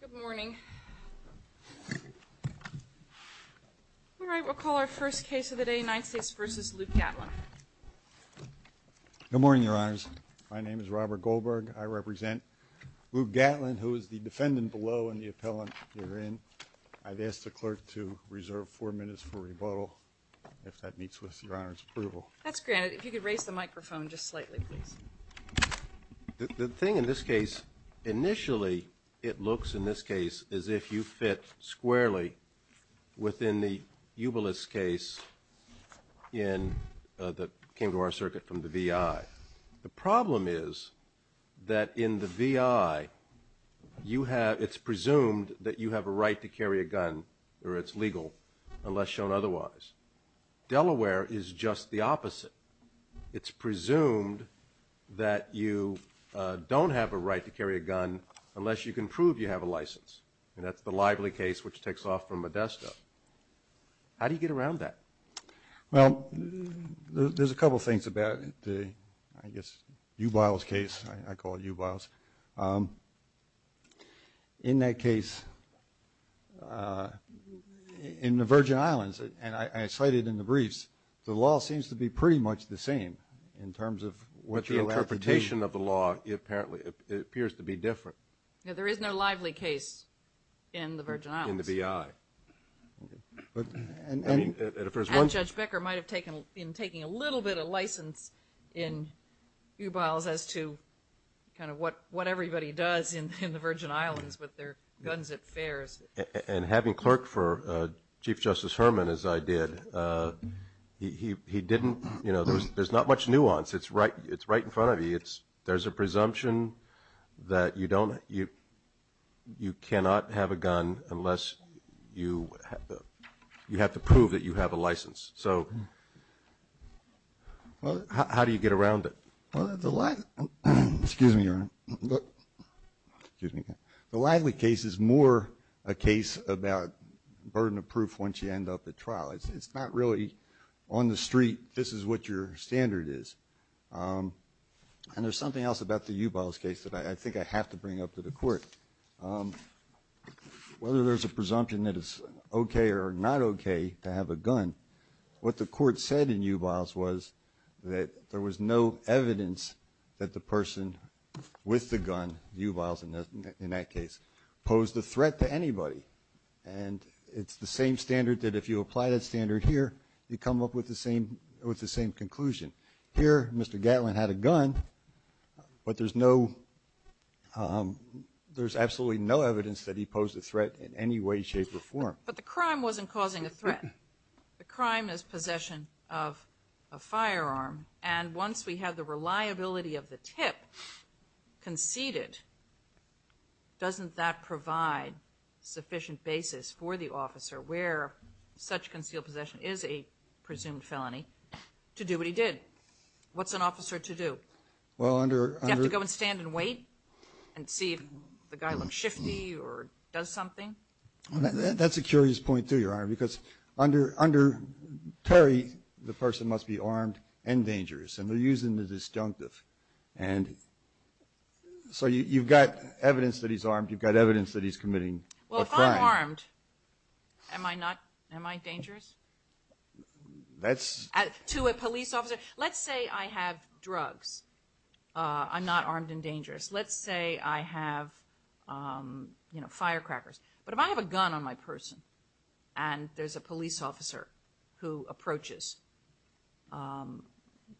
Good morning, your honors. My name is Robert Goldberg. I represent Luke Gatlin, who is the defendant below and the appellant herein. I've asked the clerk to reserve four minutes for rebuttal, if that meets with your honor's approval. That's granted. If you could raise the microphone just slightly, please. The thing in this case, initially it looks in this case as if you fit squarely within the Ubilis case that came to our circuit from the V.I. The problem is that in the V.I., it's presumed that you have a right to carry a gun or it's legal unless shown otherwise. Delaware is just the opposite. It's presumed that you don't have a right to carry a gun unless you can prove you have a license. And that's the Lively case, which takes off from Modesto. How do you get around that? Well, there's a couple things about the, I guess, Ubilis case. I call it Ubilis. In that case, in the Virgin Islands, and I cited in the briefs, the law seems to be pretty much the same in terms of what you're allowed to do. But the interpretation of the law apparently appears to be different. There is no Lively case in the Virgin Islands. In the V.I. And Judge Becker might have taken, in taking a little bit of license in Ubilis as to kind of what everybody does in the Virgin Islands with their guns at fairs. And having clerked for Chief Justice Herman, as I did, he didn't, you know, there's not much nuance. It's right in front of you. There's a presumption that you don't, you cannot have a gun unless you have to prove that you have a license. So how do you get around it? Well, the Lively case is more a case about burden of proof once you end up at trial. It's not really on the street, this is what your standard is. And there's something else about the Ubilis case that I think I have to bring up to the court. Whether there's a presumption that it's okay or not okay to have a gun, what the court said in Ubilis was that there was no evidence that the person with the gun, Ubilis in that case, posed a threat to anybody. And it's the same standard that if you apply that standard here, you come up with the same conclusion. Here, Mr. Gatlin had a gun, but there's no, there's absolutely no evidence that he posed a threat in any way, shape, or form. But the crime wasn't causing a threat. The crime is possession of a firearm. And once we have the reliability of the tip conceded, doesn't that provide sufficient basis for the officer where such concealed possession is a presumed felony to do what he did? What's an officer to do? Do you have to go and stand and wait and see if the guy looks shifty or does something? That's a curious point too, Your Honor, because under Terry, the person must be armed and dangerous. And we're using the disjunctive. And so you've got evidence that he's armed. You've got evidence that he's committing a crime. Well, if I'm armed, am I not, am I dangerous? That's... To a police officer. Let's say I have drugs. I'm not armed and dangerous. Let's say I have, you know, firecrackers. But if I have a gun on my person and there's a police officer who approaches,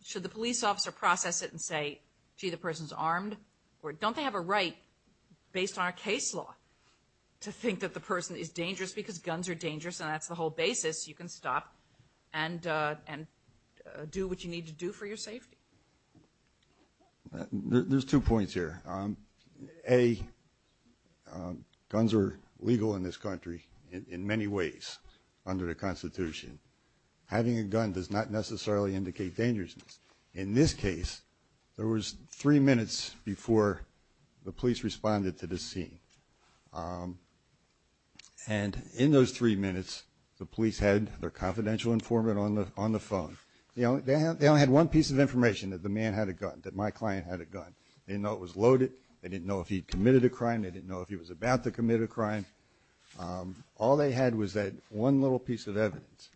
should the police officer process it and say, gee, the person's armed? Or don't they have a right, based on our case law, to think that the person is dangerous because guns are dangerous and that's the whole basis. You can stop and do what you need to do for your safety. There's two points here. A, guns are legal in this country in many ways under the Constitution. Having a gun does not necessarily indicate dangerousness. In this case, there was three minutes before the police responded to this scene. And in those three minutes, the police had their confidential informant on the phone. You know, they only had one piece of information, that the man had a gun, that my client had a gun. They didn't know it was loaded. They didn't know if he'd committed a crime. They didn't know if he was about to commit a crime. All they had was that one little piece of evidence.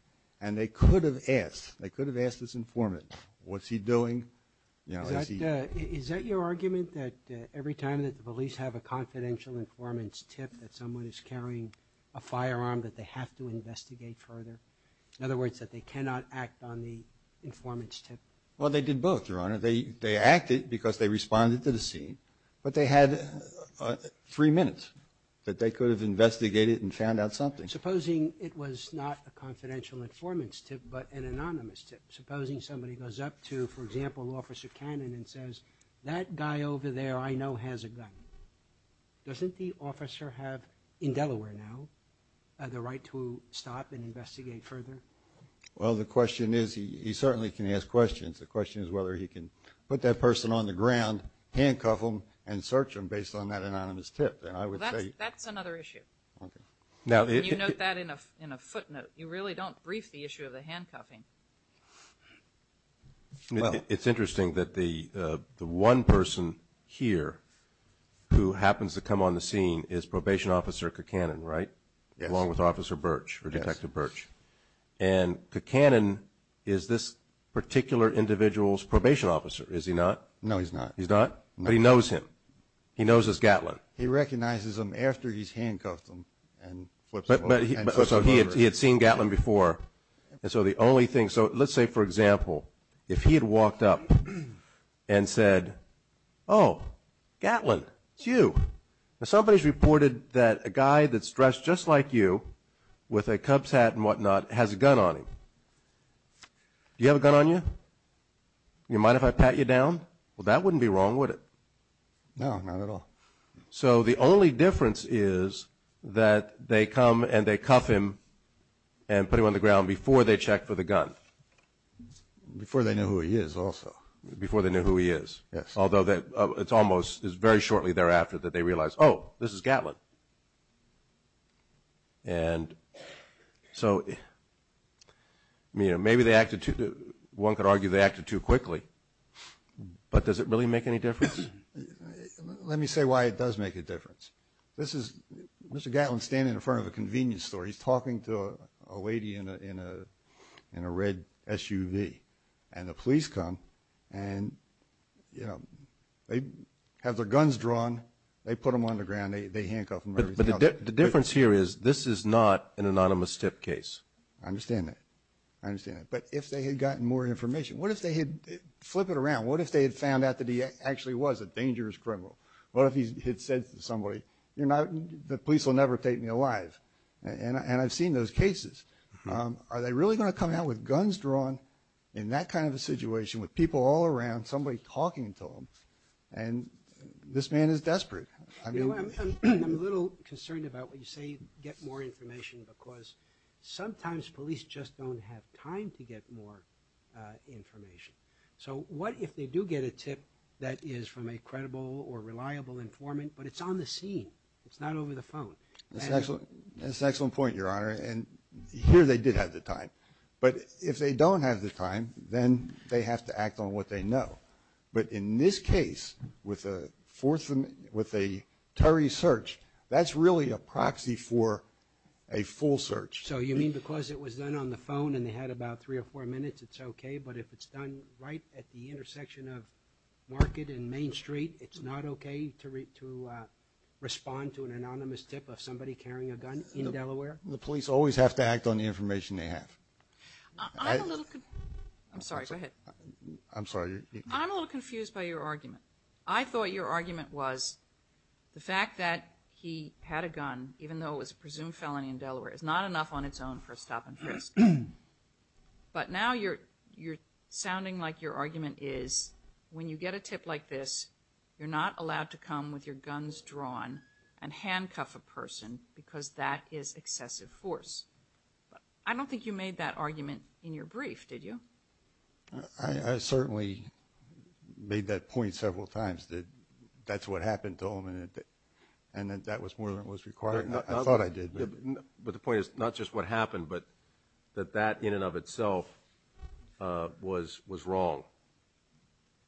And they could have asked, they could have asked this informant, what's he doing? Is that your argument that every time that the police have a confidential informant's tip that someone is carrying a firearm that they have to investigate further? In other words, that they cannot act on the informant's tip? Well, they did both, Your Honor. They acted because they responded to the scene, but they had three minutes that they could have investigated and found out something. Supposing it was not a confidential informant's tip but an anonymous tip. Supposing somebody goes up to, for example, Officer Cannon and says, that guy over there I know has a gun. Doesn't the officer have, in Delaware now, the right to stop and investigate further? Well, the question is, he certainly can ask questions. The question is whether he can put that person on the ground, handcuff them, and search them based on that anonymous tip. That's another issue. You note that in a footnote. You really don't brief the issue of the handcuffing. It's interesting that the one person here who happens to come on the scene is Probation Officer Cacannon, right? Yes. Along with Officer Birch or Detective Birch. Yes. And Cacannon is this particular individual's probation officer, is he not? No, he's not. He's not? No. But he knows him. He knows it's Gatlin. He recognizes him after he's handcuffed him and flips him over. So he had seen Gatlin before. And so the only thing, so let's say, for example, if he had walked up and said, oh, Gatlin, it's you. Now, somebody's reported that a guy that's dressed just like you with a Cubs hat and whatnot has a gun on him. Do you have a gun on you? Do you mind if I pat you down? Well, that wouldn't be wrong, would it? No, not at all. So the only difference is that they come and they cuff him and put him on the ground before they check for the gun. Before they know who he is also. Before they know who he is. Yes. Although it's almost very shortly thereafter that they realize, oh, this is Gatlin. And so maybe they acted too, one could argue they acted too quickly. But does it really make any difference? Let me say why it does make a difference. This is Mr. Gatlin standing in front of a convenience store. He's talking to a lady in a red SUV. And the police come and, you know, they have their guns drawn. They put him on the ground. They handcuff him. But the difference here is this is not an anonymous tip case. I understand that. I understand that. But if they had gotten more information, what if they had, flip it around, what if they had found out that he actually was a dangerous criminal? What if he had said to somebody, the police will never take me alive? And I've seen those cases. Are they really going to come out with guns drawn in that kind of a situation with people all around, somebody talking to them? And this man is desperate. I'm a little concerned about what you say, get more information, because sometimes police just don't have time to get more information. So what if they do get a tip that is from a credible or reliable informant, but it's on the scene, it's not over the phone? That's an excellent point, Your Honor. And here they did have the time. But if they don't have the time, then they have to act on what they know. But in this case, with a search, that's really a proxy for a full search. So you mean because it was done on the phone and they had about three or four minutes, it's okay? But if it's done right at the intersection of Market and Main Street, it's not okay to respond to an anonymous tip of somebody carrying a gun in Delaware? The police always have to act on the information they have. I'm sorry, go ahead. I'm sorry. I'm a little confused by your argument. I thought your argument was the fact that he had a gun, even though it was a presumed felony in Delaware, is not enough on its own for a stop and frisk. But now you're sounding like your argument is when you get a tip like this, you're not allowed to come with your guns drawn and handcuff a person because that is excessive force. I don't think you made that argument in your brief, did you? I certainly made that point several times that that's what happened to him and that that was more than what was required. I thought I did. But the point is not just what happened, but that that in and of itself was wrong,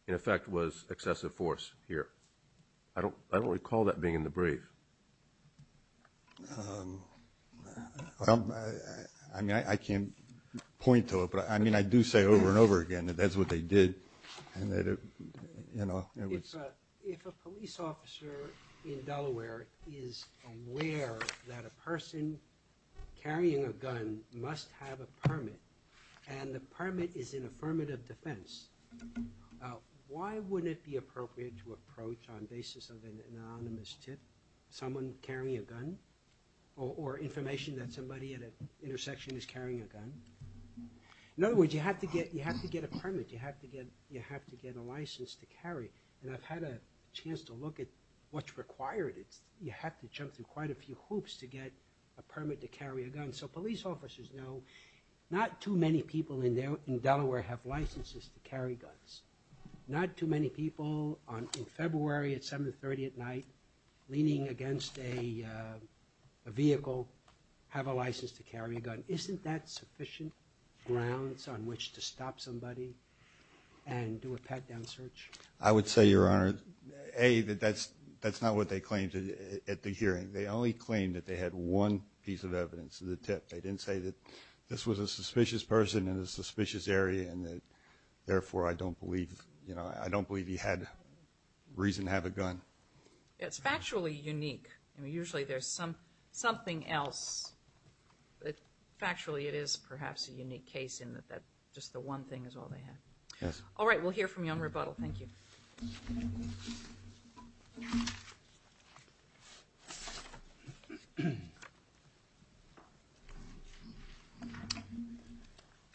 in effect was excessive force here. I don't recall that being in the brief. I can't point to it, but I do say over and over again that that's what they did. If a police officer in Delaware is aware that a person carrying a gun must have a permit and the permit is in affirmative defense, why wouldn't it be appropriate to approach on the basis of an anonymous tip someone carrying a gun or information that somebody at an intersection is carrying a gun? In other words, you have to get a permit. You have to get a license to carry. I've had a chance to look at what's required. You have to jump through quite a few hoops to get a permit to carry a gun. So police officers know not too many people in Delaware have licenses to carry guns. Not too many people in February at 730 at night leaning against a vehicle have a license to carry a gun. Isn't that sufficient grounds on which to stop somebody and do a pat-down search? I would say, Your Honor, A, that that's not what they claimed at the hearing. They only claimed that they had one piece of evidence, the tip. They didn't say that this was a suspicious person in a suspicious area and that therefore I don't believe he had reason to have a gun. It's factually unique. Usually there's something else, but factually it is perhaps a unique case in that just the one thing is all they had. All right, we'll hear from you on rebuttal. Thank you. Good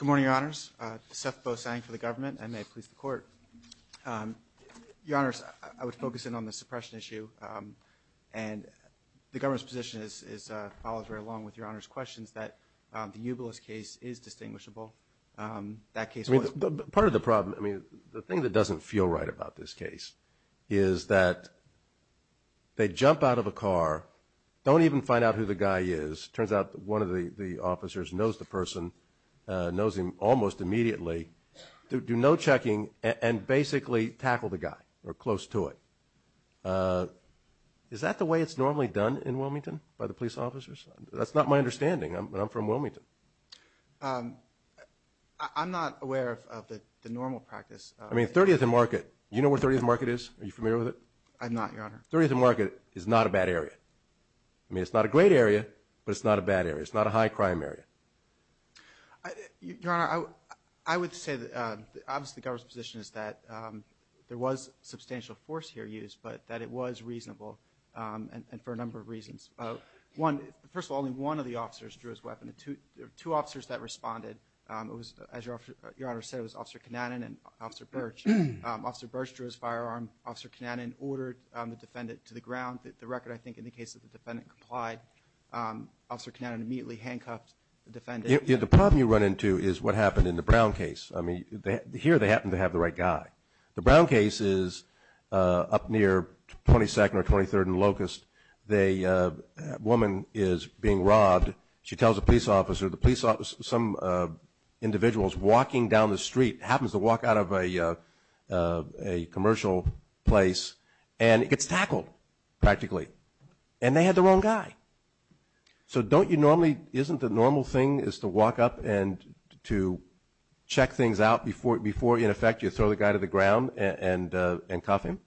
morning, Your Honors. Seth Bosang for the government, and may it please the Court. Your Honors, I would focus in on the suppression issue and the government's position follows right along with Your Honor's questions that the Ubilis case is distinguishable. Part of the problem, the thing that doesn't feel right about this case is that they jump out of a car, don't even find out who the guy is. It turns out one of the officers knows the person, knows him almost immediately, do no checking and basically tackle the guy or close to it. Is that the way it's normally done in Wilmington by the police officers? That's not my understanding. I'm from Wilmington. I'm not aware of the normal practice. I mean 30th and Market, you know where 30th and Market is? Are you familiar with it? I'm not, Your Honor. 30th and Market is not a bad area. I mean it's not a great area, but it's not a bad area. It's not a high crime area. Your Honor, I would say that obviously the government's position is that there was substantial force here used, but that it was reasonable and for a number of reasons. First of all, only one of the officers drew his weapon. There were two officers that responded. It was, as Your Honor said, it was Officer Kananen and Officer Birch. Officer Birch drew his firearm. Officer Kananen ordered the defendant to the ground. The record, I think, indicates that the defendant complied. Officer Kananen immediately handcuffed the defendant. The problem you run into is what happened in the Brown case. I mean here they happen to have the right guy. The Brown case is up near 22nd or 23rd and Locust. The woman is being robbed. She tells a police officer. Some individual is walking down the street, happens to walk out of a commercial place, and it gets tackled practically, and they had the wrong guy. So don't you normally, isn't the normal thing is to walk up and to check things out before, in effect, you throw the guy to the ground and cuff him?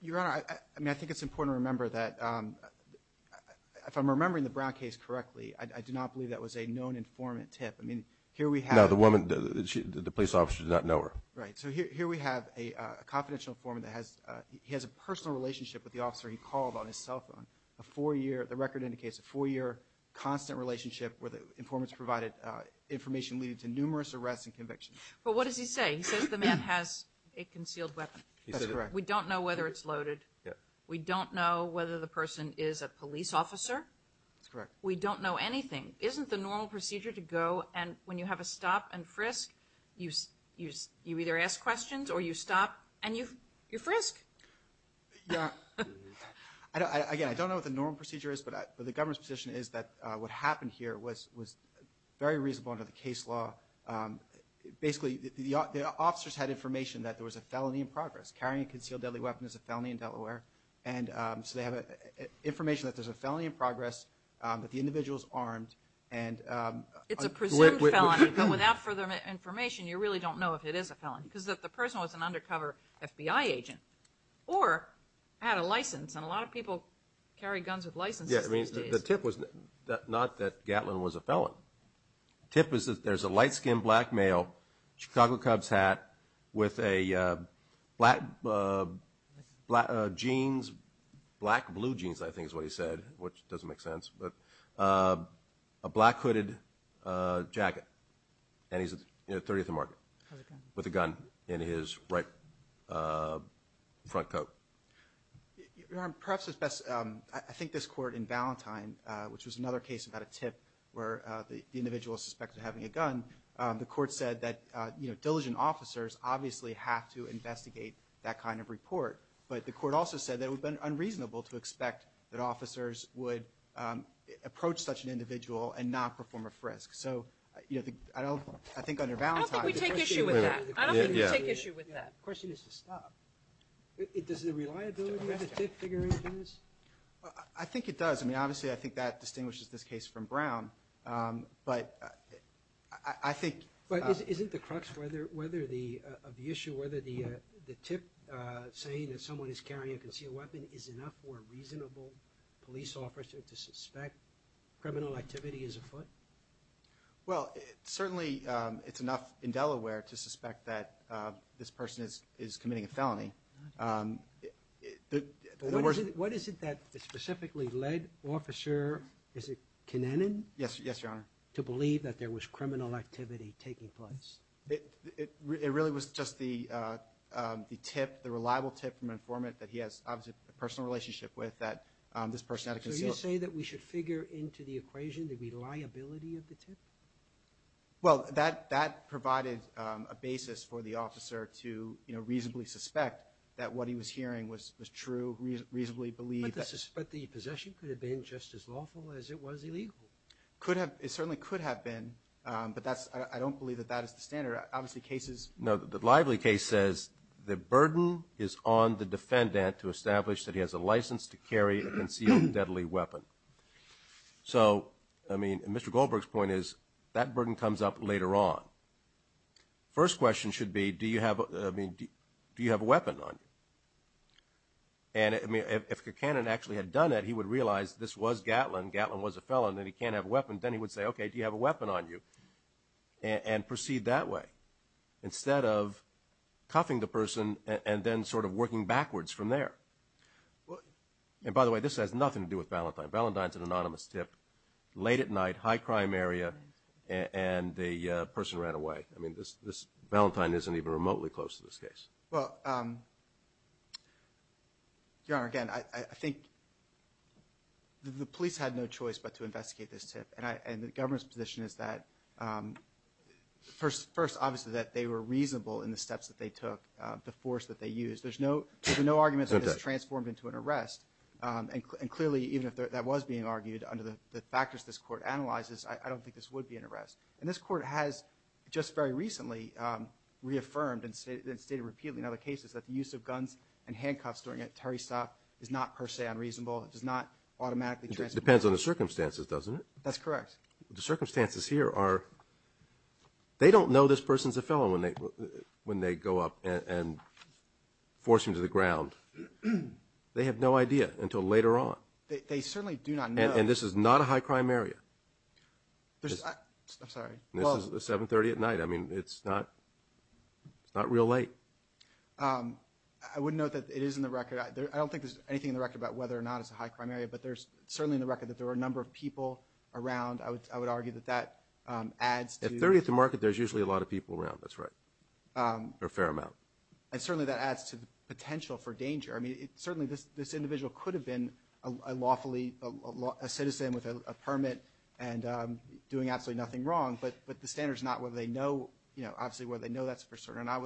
Your Honor, I mean I think it's important to remember that, if I'm remembering the Brown case correctly, I do not believe that was a known informant tip. I mean here we have. No, the woman, the police officer did not know her. Right. So here we have a confidential informant that has, he has a personal relationship with the officer he called on his cell phone, a four-year, the record indicates, a four-year constant relationship where the informant's provided information leading to numerous arrests and convictions. But what does he say? He says the man has a concealed weapon. That's correct. We don't know whether it's loaded. We don't know whether the person is a police officer. That's correct. We don't know anything. Isn't the normal procedure to go and when you have a stop and frisk, you either ask questions or you stop and you frisk? Yeah. Again, I don't know what the normal procedure is, but the government's position is that what happened here was very reasonable under the case law. Basically the officers had information that there was a felony in progress. Carrying a concealed deadly weapon is a felony in Delaware. And so they have information that there's a felony in progress, that the individual is armed. It's a presumed felony, but without further information, you really don't know if it is a felony, because if the person was an undercover FBI agent or had a license, and a lot of people carry guns with licenses these days. The tip was not that Gatlin was a felon. The tip is that there's a light-skinned black male, Chicago Cubs hat, with a black jeans, black-blue jeans, I think is what he said, which doesn't make sense, but a black-hooded jacket. And he's at 30th and Market. With a gun. With a gun in his right front coat. Your Honor, perhaps it's best, I think this court in Valentine, which was another case about a tip where the individual is suspected of having a gun, the court said that diligent officers obviously have to investigate that kind of report. But the court also said that it would have been unreasonable to expect that officers would approach such an individual and not perform a frisk. So, you know, I think under Valentine. I don't think we take issue with that. I don't think we take issue with that. The question is to stop. Does the reliability of the tip figure into this? I think it does. I mean, obviously, I think that distinguishes this case from Brown. But I think. But isn't the crux of the issue whether the tip saying that someone is carrying a concealed weapon is enough for a reasonable police officer to suspect criminal activity is afoot? Well, certainly it's enough in Delaware to suspect that this person is committing a felony. What is it that specifically led Officer, is it Kinnanan? Yes, Your Honor. To believe that there was criminal activity taking place. It really was just the tip, the reliable tip from an informant that he has, obviously, a personal relationship with that this person had a concealed weapon. So you say that we should figure into the equation the reliability of the tip? Well, that provided a basis for the officer to reasonably suspect that what he was hearing was true, reasonably believe that. But the possession could have been just as lawful as it was illegal. It certainly could have been, but I don't believe that that is the standard. Obviously, cases. No, the Lively case says the burden is on the defendant to establish that he has a license to carry a concealed deadly weapon. So, I mean, Mr. Goldberg's point is that burden comes up later on. First question should be, do you have a weapon on you? And, I mean, if Kinnanan actually had done it, he would realize this was Gatlin. Gatlin was a felon and he can't have a weapon, then he would say, okay, do you have a weapon on you? And proceed that way instead of cuffing the person and then sort of working backwards from there. And, by the way, this has nothing to do with Valentine. Valentine's an anonymous tip. Late at night, high crime area, and the person ran away. I mean, this Valentine isn't even remotely close to this case. Well, Your Honor, again, I think the police had no choice but to investigate this tip. And the government's position is that first, obviously, that they were reasonable in the steps that they took, the force that they used. There's no argument that this transformed into an arrest. And, clearly, even if that was being argued under the factors this court analyzes, I don't think this would be an arrest. And this court has just very recently reaffirmed and stated repeatedly in other cases that the use of guns and handcuffs during a Terry stop is not per se unreasonable. It does not automatically transform. It depends on the circumstances, doesn't it? That's correct. The circumstances here are they don't know this person's a felon when they go up and force him to the ground. They have no idea until later on. They certainly do not know. And this is not a high crime area. I'm sorry. This is at 730 at night. I mean, it's not real late. I would note that it is in the record. I don't think there's anything in the record about whether or not it's a high crime area. But there's certainly in the record that there were a number of people around. I would argue that that adds to. At 30th and Market, there's usually a lot of people around. That's right. Or a fair amount. And, certainly, that adds to the potential for danger. I mean, certainly, this individual could have been a lawfully, a citizen with a permit and doing absolutely nothing wrong. But the standard's not whether they know, you know, obviously whether they know that's for certain or not.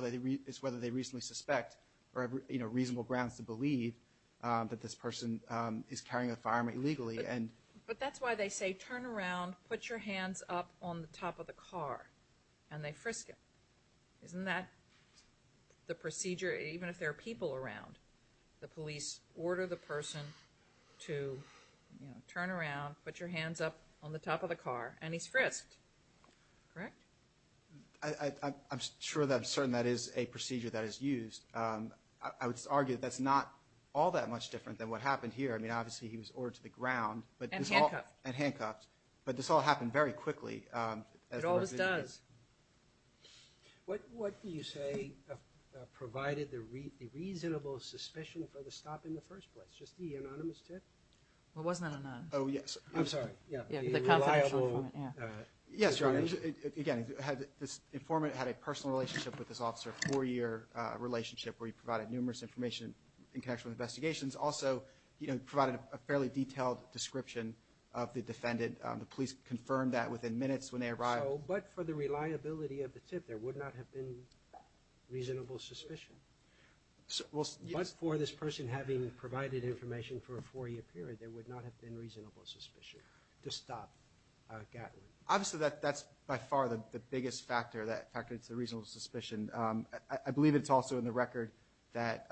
It's whether they reasonably suspect or have, you know, reasonable grounds to believe that this person is carrying a firearm illegally. But that's why they say, turn around, put your hands up on the top of the car, and they frisk him. Isn't that the procedure, even if there are people around? The police order the person to, you know, turn around, put your hands up on the top of the car, and he's frisked. Correct? I'm sure that, I'm certain that is a procedure that is used. I would argue that that's not all that much different than what happened here. I mean, obviously, he was ordered to the ground. And handcuffed. And handcuffed. But this all happened very quickly. It always does. What do you say provided the reasonable suspicion for the stop in the first place? Just the anonymous tip? Well, it wasn't anonymous. Oh, yes. I'm sorry. Yeah, the confidential informant. Yeah. Yes, your Honor. Again, this informant had a personal relationship with this officer, a four-year relationship where he provided numerous information in connection with investigations. Also, you know, provided a fairly detailed description of the defendant. The police confirmed that within minutes when they arrived. But for the reliability of the tip, there would not have been reasonable suspicion. But for this person having provided information for a four-year period, there would not have been reasonable suspicion to stop Gatlin. Obviously, that's by far the biggest factor, the fact that it's a reasonable suspicion. I believe it's also in the record that.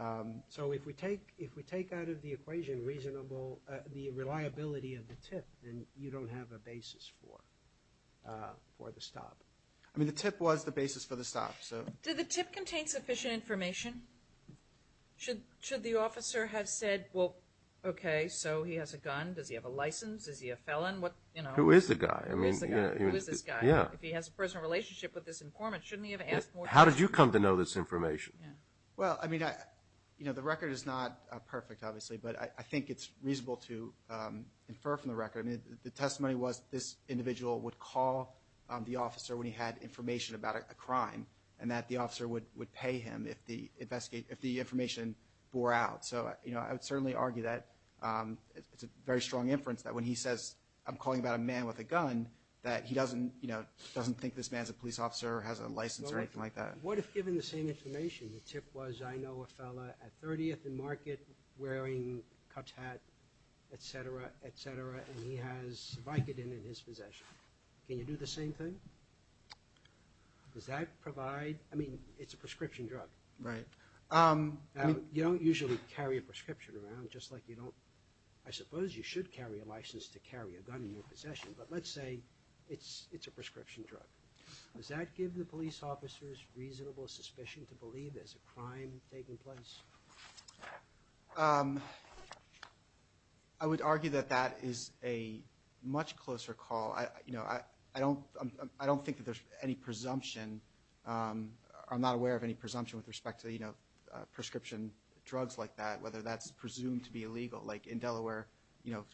So if we take out of the equation the reliability of the tip, then you don't have a basis for the stop. I mean, the tip was the basis for the stop. Did the tip contain sufficient information? Should the officer have said, well, okay, so he has a gun. Does he have a license? Is he a felon? Who is the guy? Who is this guy? Yeah. If he has a personal relationship with this informant, shouldn't he have asked more time? How did you come to know this information? Well, I mean, you know, the record is not perfect, obviously, but I think it's reasonable to infer from the record. I mean, the testimony was this individual would call the officer when he had information about a crime and that the officer would pay him if the information bore out. So, you know, I would certainly argue that it's a very strong inference that when he says, I'm calling about a man with a gun, that he doesn't, you know, doesn't think this man is a police officer or has a license or anything like that. What if, given the same information, the tip was, I know a fellow at 30th and Market wearing a Cubs hat, et cetera, et cetera, and he has Vicodin in his possession? Can you do the same thing? Does that provide, I mean, it's a prescription drug. Right. I mean, you don't usually carry a prescription around, just like you don't, I suppose you should carry a license to carry a gun in your possession, but let's say it's a prescription drug. Does that give the police officers reasonable suspicion to believe there's a crime taking place? I would argue that that is a much closer call. You know, I don't think that there's any presumption. I'm not aware of any presumption with respect to, you know, prescription drugs like that, whether that's presumed to be illegal. Like in Delaware, you know,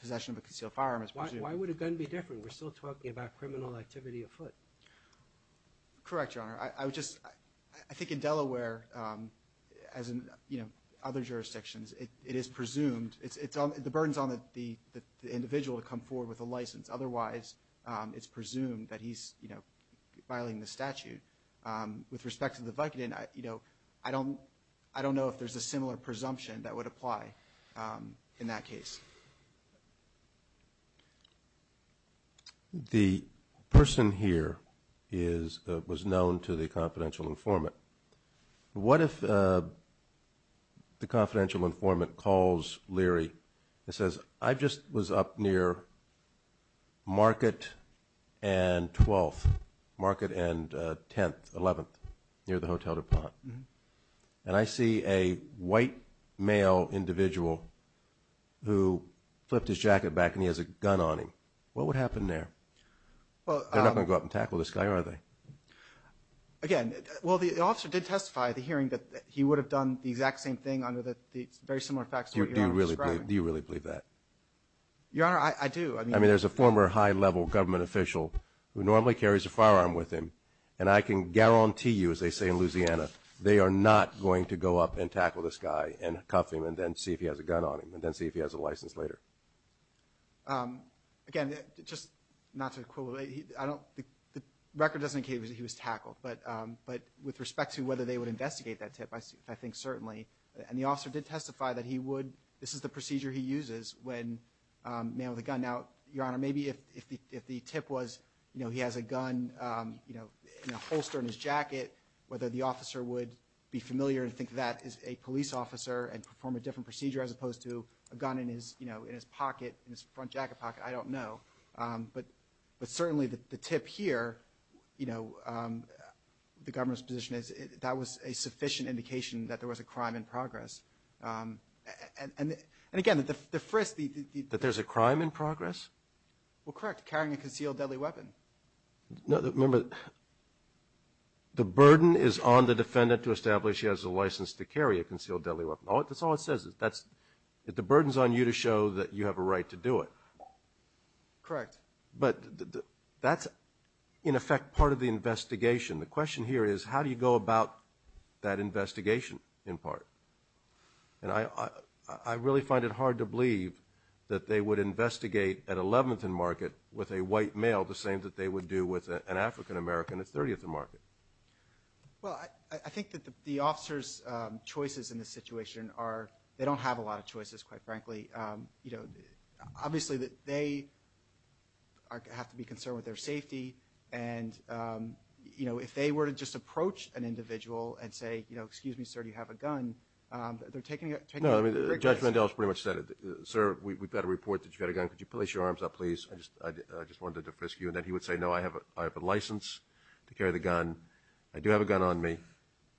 possession of a concealed firearm is presumed. Why would a gun be different? We're still talking about criminal activity afoot. Correct, Your Honor. I would just, I think in Delaware, as in, you know, other jurisdictions, it is presumed, the burden's on the individual to come forward with a license. Otherwise, it's presumed that he's, you know, violating the statute. With respect to the Vicodin, you know, I don't know if there's a similar presumption that would apply in that case. The person here is, was known to the confidential informant. What if the confidential informant calls Leary and says, I just was up near Market and 12th, Market and 10th, 11th, near the Hotel DuPont, and I see a white male individual who flipped his jacket back and he has a gun on him. What would happen there? They're not going to go up and tackle this guy, are they? Again, well, the officer did testify at the hearing that he would have done the exact same thing under the very similar facts that you're describing. Do you really believe that? Your Honor, I do. I mean, there's a former high-level government official who normally carries a firearm with him, and I can guarantee you, as they say in Louisiana, they are not going to go up and tackle this guy and cuff him and then see if he has a gun on him and then see if he has a license later. Again, just not to equivocate, the record doesn't indicate that he was tackled, but with respect to whether they would investigate that tip, I think certainly. And the officer did testify that he would. This is the procedure he uses when a man with a gun. Now, Your Honor, maybe if the tip was he has a gun in a holster in his jacket, whether the officer would be familiar and think that is a police officer and perform a different procedure as opposed to a gun in his pocket, in his front jacket pocket, I don't know. But certainly the tip here, you know, the government's position is that was a sufficient indication that there was a crime in progress. And again, the frisk, the ---- That there's a crime in progress? Well, correct, carrying a concealed deadly weapon. Remember, the burden is on the defendant to establish that she has a license to carry a concealed deadly weapon. That's all it says. The burden is on you to show that you have a right to do it. Correct. But that's, in effect, part of the investigation. The question here is how do you go about that investigation in part? And I really find it hard to believe that they would investigate at 11th and Market with a white male the same that they would do with an African American at 30th and Market. Well, I think that the officer's choices in this situation are, they don't have a lot of choices, quite frankly. You know, obviously they have to be concerned with their safety. And, you know, if they were to just approach an individual and say, you know, excuse me, sir, do you have a gun, they're taking a risk. Judge Mandel has pretty much said it. Sir, we've got a report that you've got a gun. Could you place your arms up, please? I just wanted to frisk you. And then he would say, no, I have a license to carry the gun. I do have a gun on me.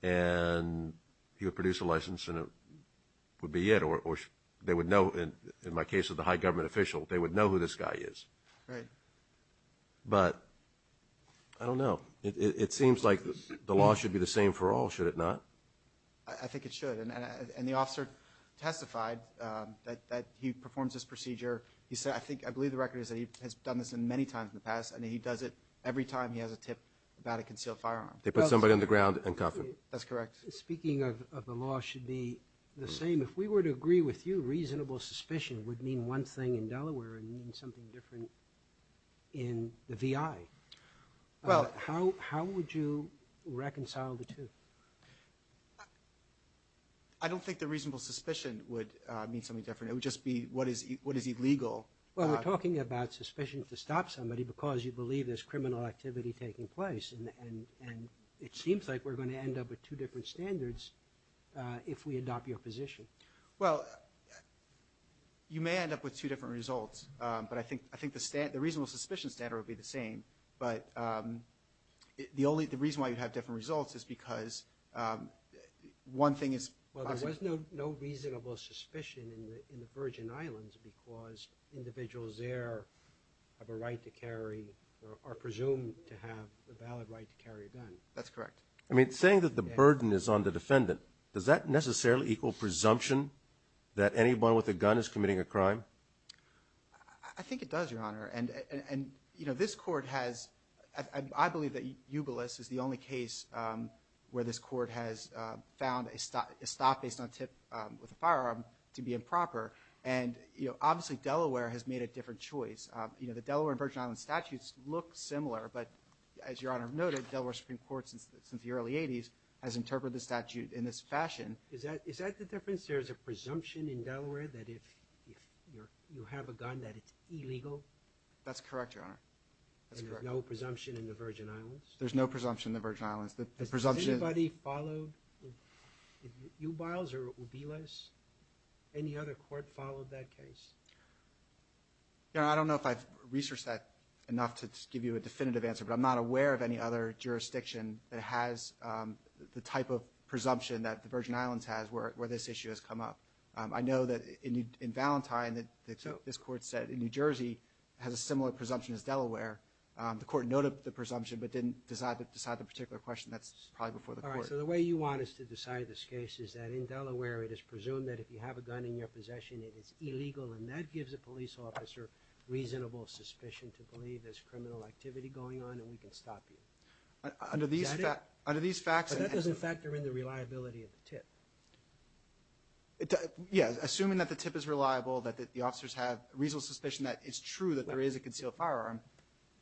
And he would produce a license and it would be it. Or they would know, in my case as the high government official, they would know who this guy is. Right. But I don't know. It seems like the law should be the same for all, should it not? I think it should. And the officer testified that he performs this procedure. I believe the record is that he has done this many times in the past, and he does it every time he has a tip about a concealed firearm. They put somebody on the ground and cuff him. That's correct. Speaking of the law should be the same, if we were to agree with you, reasonable suspicion would mean one thing in Delaware and mean something different in the VI. How would you reconcile the two? I don't think that reasonable suspicion would mean something different. It would just be what is illegal. Well, we're talking about suspicion to stop somebody because you believe there's criminal activity taking place, and it seems like we're going to end up with two different standards if we adopt your position. Well, you may end up with two different results, but I think the reasonable suspicion standard would be the same. But the reason why you'd have different results is because one thing is – Well, there was no reasonable suspicion in the Virgin Islands because individuals there have a right to carry or are presumed to have a valid right to carry a gun. That's correct. I mean, saying that the burden is on the defendant, does that necessarily equal presumption that anyone with a gun is committing a crime? I think it does, Your Honor. And, you know, this court has – with a firearm to be improper. And, you know, obviously Delaware has made a different choice. You know, the Delaware and Virgin Islands statutes look similar, but as Your Honor noted, Delaware Supreme Court since the early 80s has interpreted the statute in this fashion. Is that the difference? There's a presumption in Delaware that if you have a gun that it's illegal? That's correct, Your Honor. There's no presumption in the Virgin Islands? There's no presumption in the Virgin Islands. The presumption – Has anybody followed Ubiles or Ubiles? Any other court followed that case? Your Honor, I don't know if I've researched that enough to give you a definitive answer, but I'm not aware of any other jurisdiction that has the type of presumption that the Virgin Islands has where this issue has come up. I know that in Valentine that this court said in New Jersey has a similar presumption as Delaware. The court noted the presumption but didn't decide the particular question. That's probably before the court. All right, so the way you want us to decide this case is that in Delaware it is presumed that if you have a gun in your possession it is illegal, and that gives a police officer reasonable suspicion to believe there's criminal activity going on and we can stop you. Is that it? Under these facts – But that doesn't factor in the reliability of the tip. Yeah, assuming that the tip is reliable, that the officers have reasonable suspicion that it's true that there is a concealed firearm,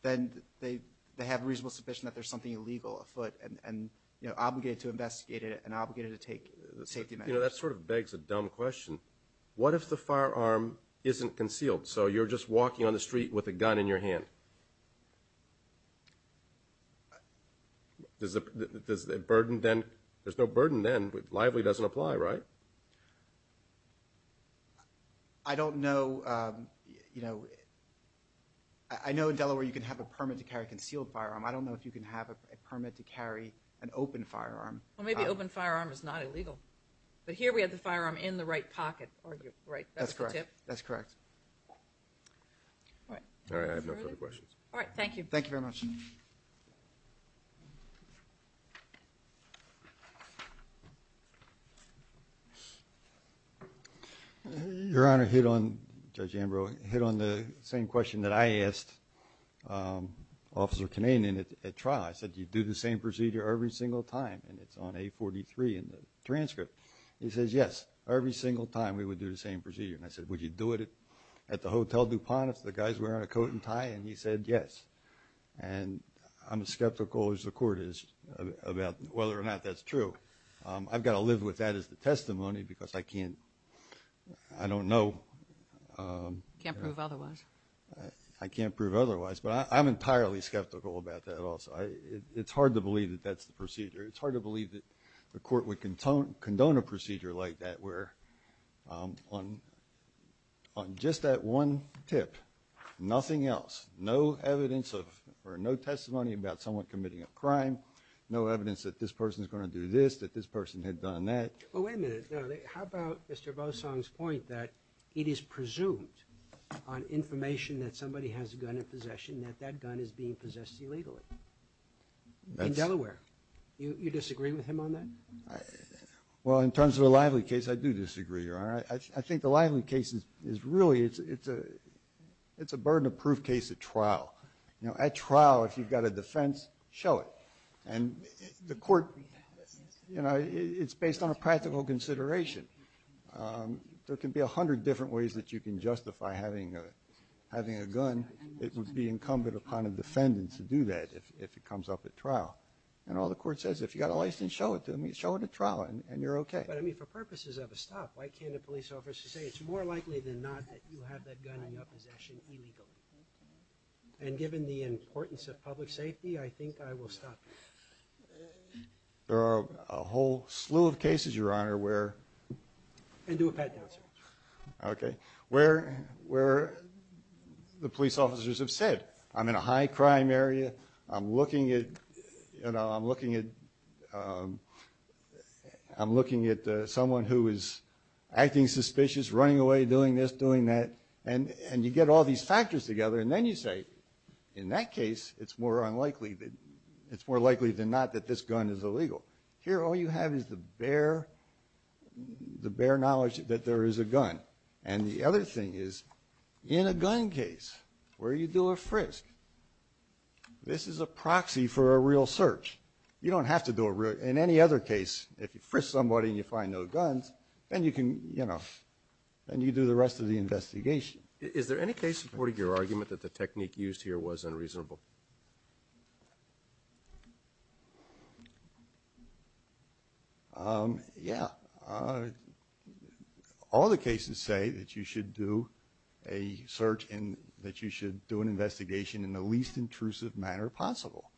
then they have reasonable suspicion that there's something illegal afoot and obligated to investigate it and obligated to take safety measures. That sort of begs a dumb question. What if the firearm isn't concealed, so you're just walking on the street with a gun in your hand? There's no burden then. Lively doesn't apply, right? I don't know. I know in Delaware you can have a permit to carry a concealed firearm. I don't know if you can have a permit to carry an open firearm. Well, maybe open firearm is not illegal. But here we have the firearm in the right pocket, right? That's correct. That's the tip? That's correct. All right. All right, I have no further questions. All right, thank you. Thank you very much. Your Honor, hit on, Judge Ambrose, hit on the same question that I asked Officer Canadian at trial. I said, do you do the same procedure every single time? And it's on A43 in the transcript. He says, yes, every single time we would do the same procedure. And I said, would you do it at the Hotel DuPont if the guy's wearing a coat and tie? And he said, yes. And I'm as skeptical as the Court is about whether or not that's true. I've got to live with that as the testimony because I can't, I don't know. Can't prove otherwise. I can't prove otherwise. But I'm entirely skeptical about that also. It's hard to believe that that's the procedure. It's hard to believe that the Court would condone a procedure like that on just that one tip. Nothing else. No evidence or no testimony about someone committing a crime. No evidence that this person is going to do this, that this person had done that. Well, wait a minute. How about Mr. Bosong's point that it is presumed on information that somebody has a gun in possession that that gun is being possessed illegally? In Delaware. You disagree with him on that? Well, in terms of the Lively case, I do disagree, Your Honor. I think the Lively case is really, it's a burden of proof case at trial. At trial, if you've got a defense, show it. And the Court, you know, it's based on a practical consideration. There can be a hundred different ways that you can justify having a gun. It would be incumbent upon a defendant to do that if it comes up at trial. And all the Court says, if you've got a license, show it to me, show it at trial, and you're okay. But, I mean, for purposes of a stop, why can't a police officer say, it's more likely than not that you have that gun in your possession illegally? And given the importance of public safety, I think I will stop you. There are a whole slew of cases, Your Honor, where – And do a pat-down, sir. Okay. Where the police officers have said, I'm in a high-crime area, I'm looking at – you know, I'm looking at – I'm looking at someone who is acting suspicious, running away, doing this, doing that. And you get all these factors together, and then you say, in that case, it's more unlikely that – it's more likely than not that this gun is illegal. Here, all you have is the bare – the bare knowledge that there is a gun. And the other thing is, in a gun case, where you do a frisk, this is a proxy for a real search. You don't have to do a real – in any other case, if you frisk somebody and you find no guns, then you can – you know, then you do the rest of the investigation. Is there any case supporting your argument that the technique used here was unreasonable? Yeah. All the cases say that you should do a search in – that you should do an investigation in the least intrusive manner possible.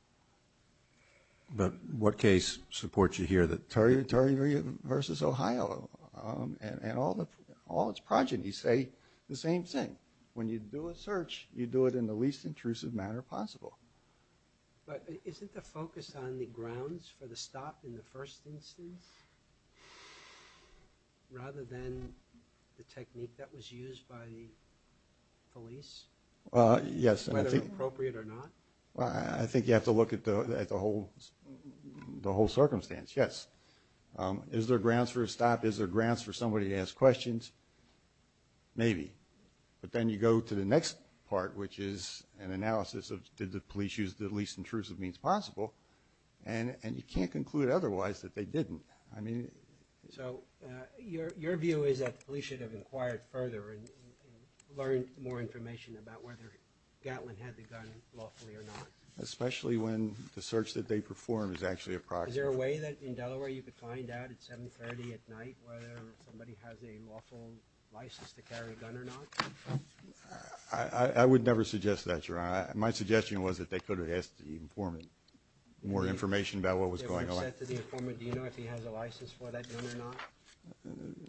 But what case supports you here? The Territory versus Ohio. And all its progenies say the same thing. When you do a search, you do it in the least intrusive manner possible. But isn't the focus on the grounds for the stop in the first instance rather than the technique that was used by the police? Yes. Whether appropriate or not? I think you have to look at the whole – the whole circumstance, yes. Is there grounds for a stop? Is there grounds for somebody to ask questions? Maybe. But then you go to the next part, which is an analysis of, did the police use the least intrusive means possible? And you can't conclude otherwise that they didn't. I mean – So your view is that the police should have inquired further and learned more information about whether Gatlin had the gun lawfully or not. Especially when the search that they performed is actually a proxy. Is there a way that, in Delaware, you could find out at 7.30 at night whether somebody has a lawful license to carry a gun or not? I would never suggest that, Your Honor. My suggestion was that they could have asked the informant more information about what was going on. They would have said to the informant, do you know if he has a license for that gun or not?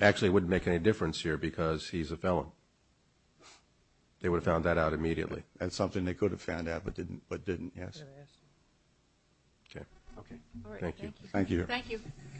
Actually, it wouldn't make any difference here because he's a felon. They would have found that out immediately. That's something they could have found out but didn't, yes. Okay. All right, thank you. Thank you. Thank you. Thank you. Thank you.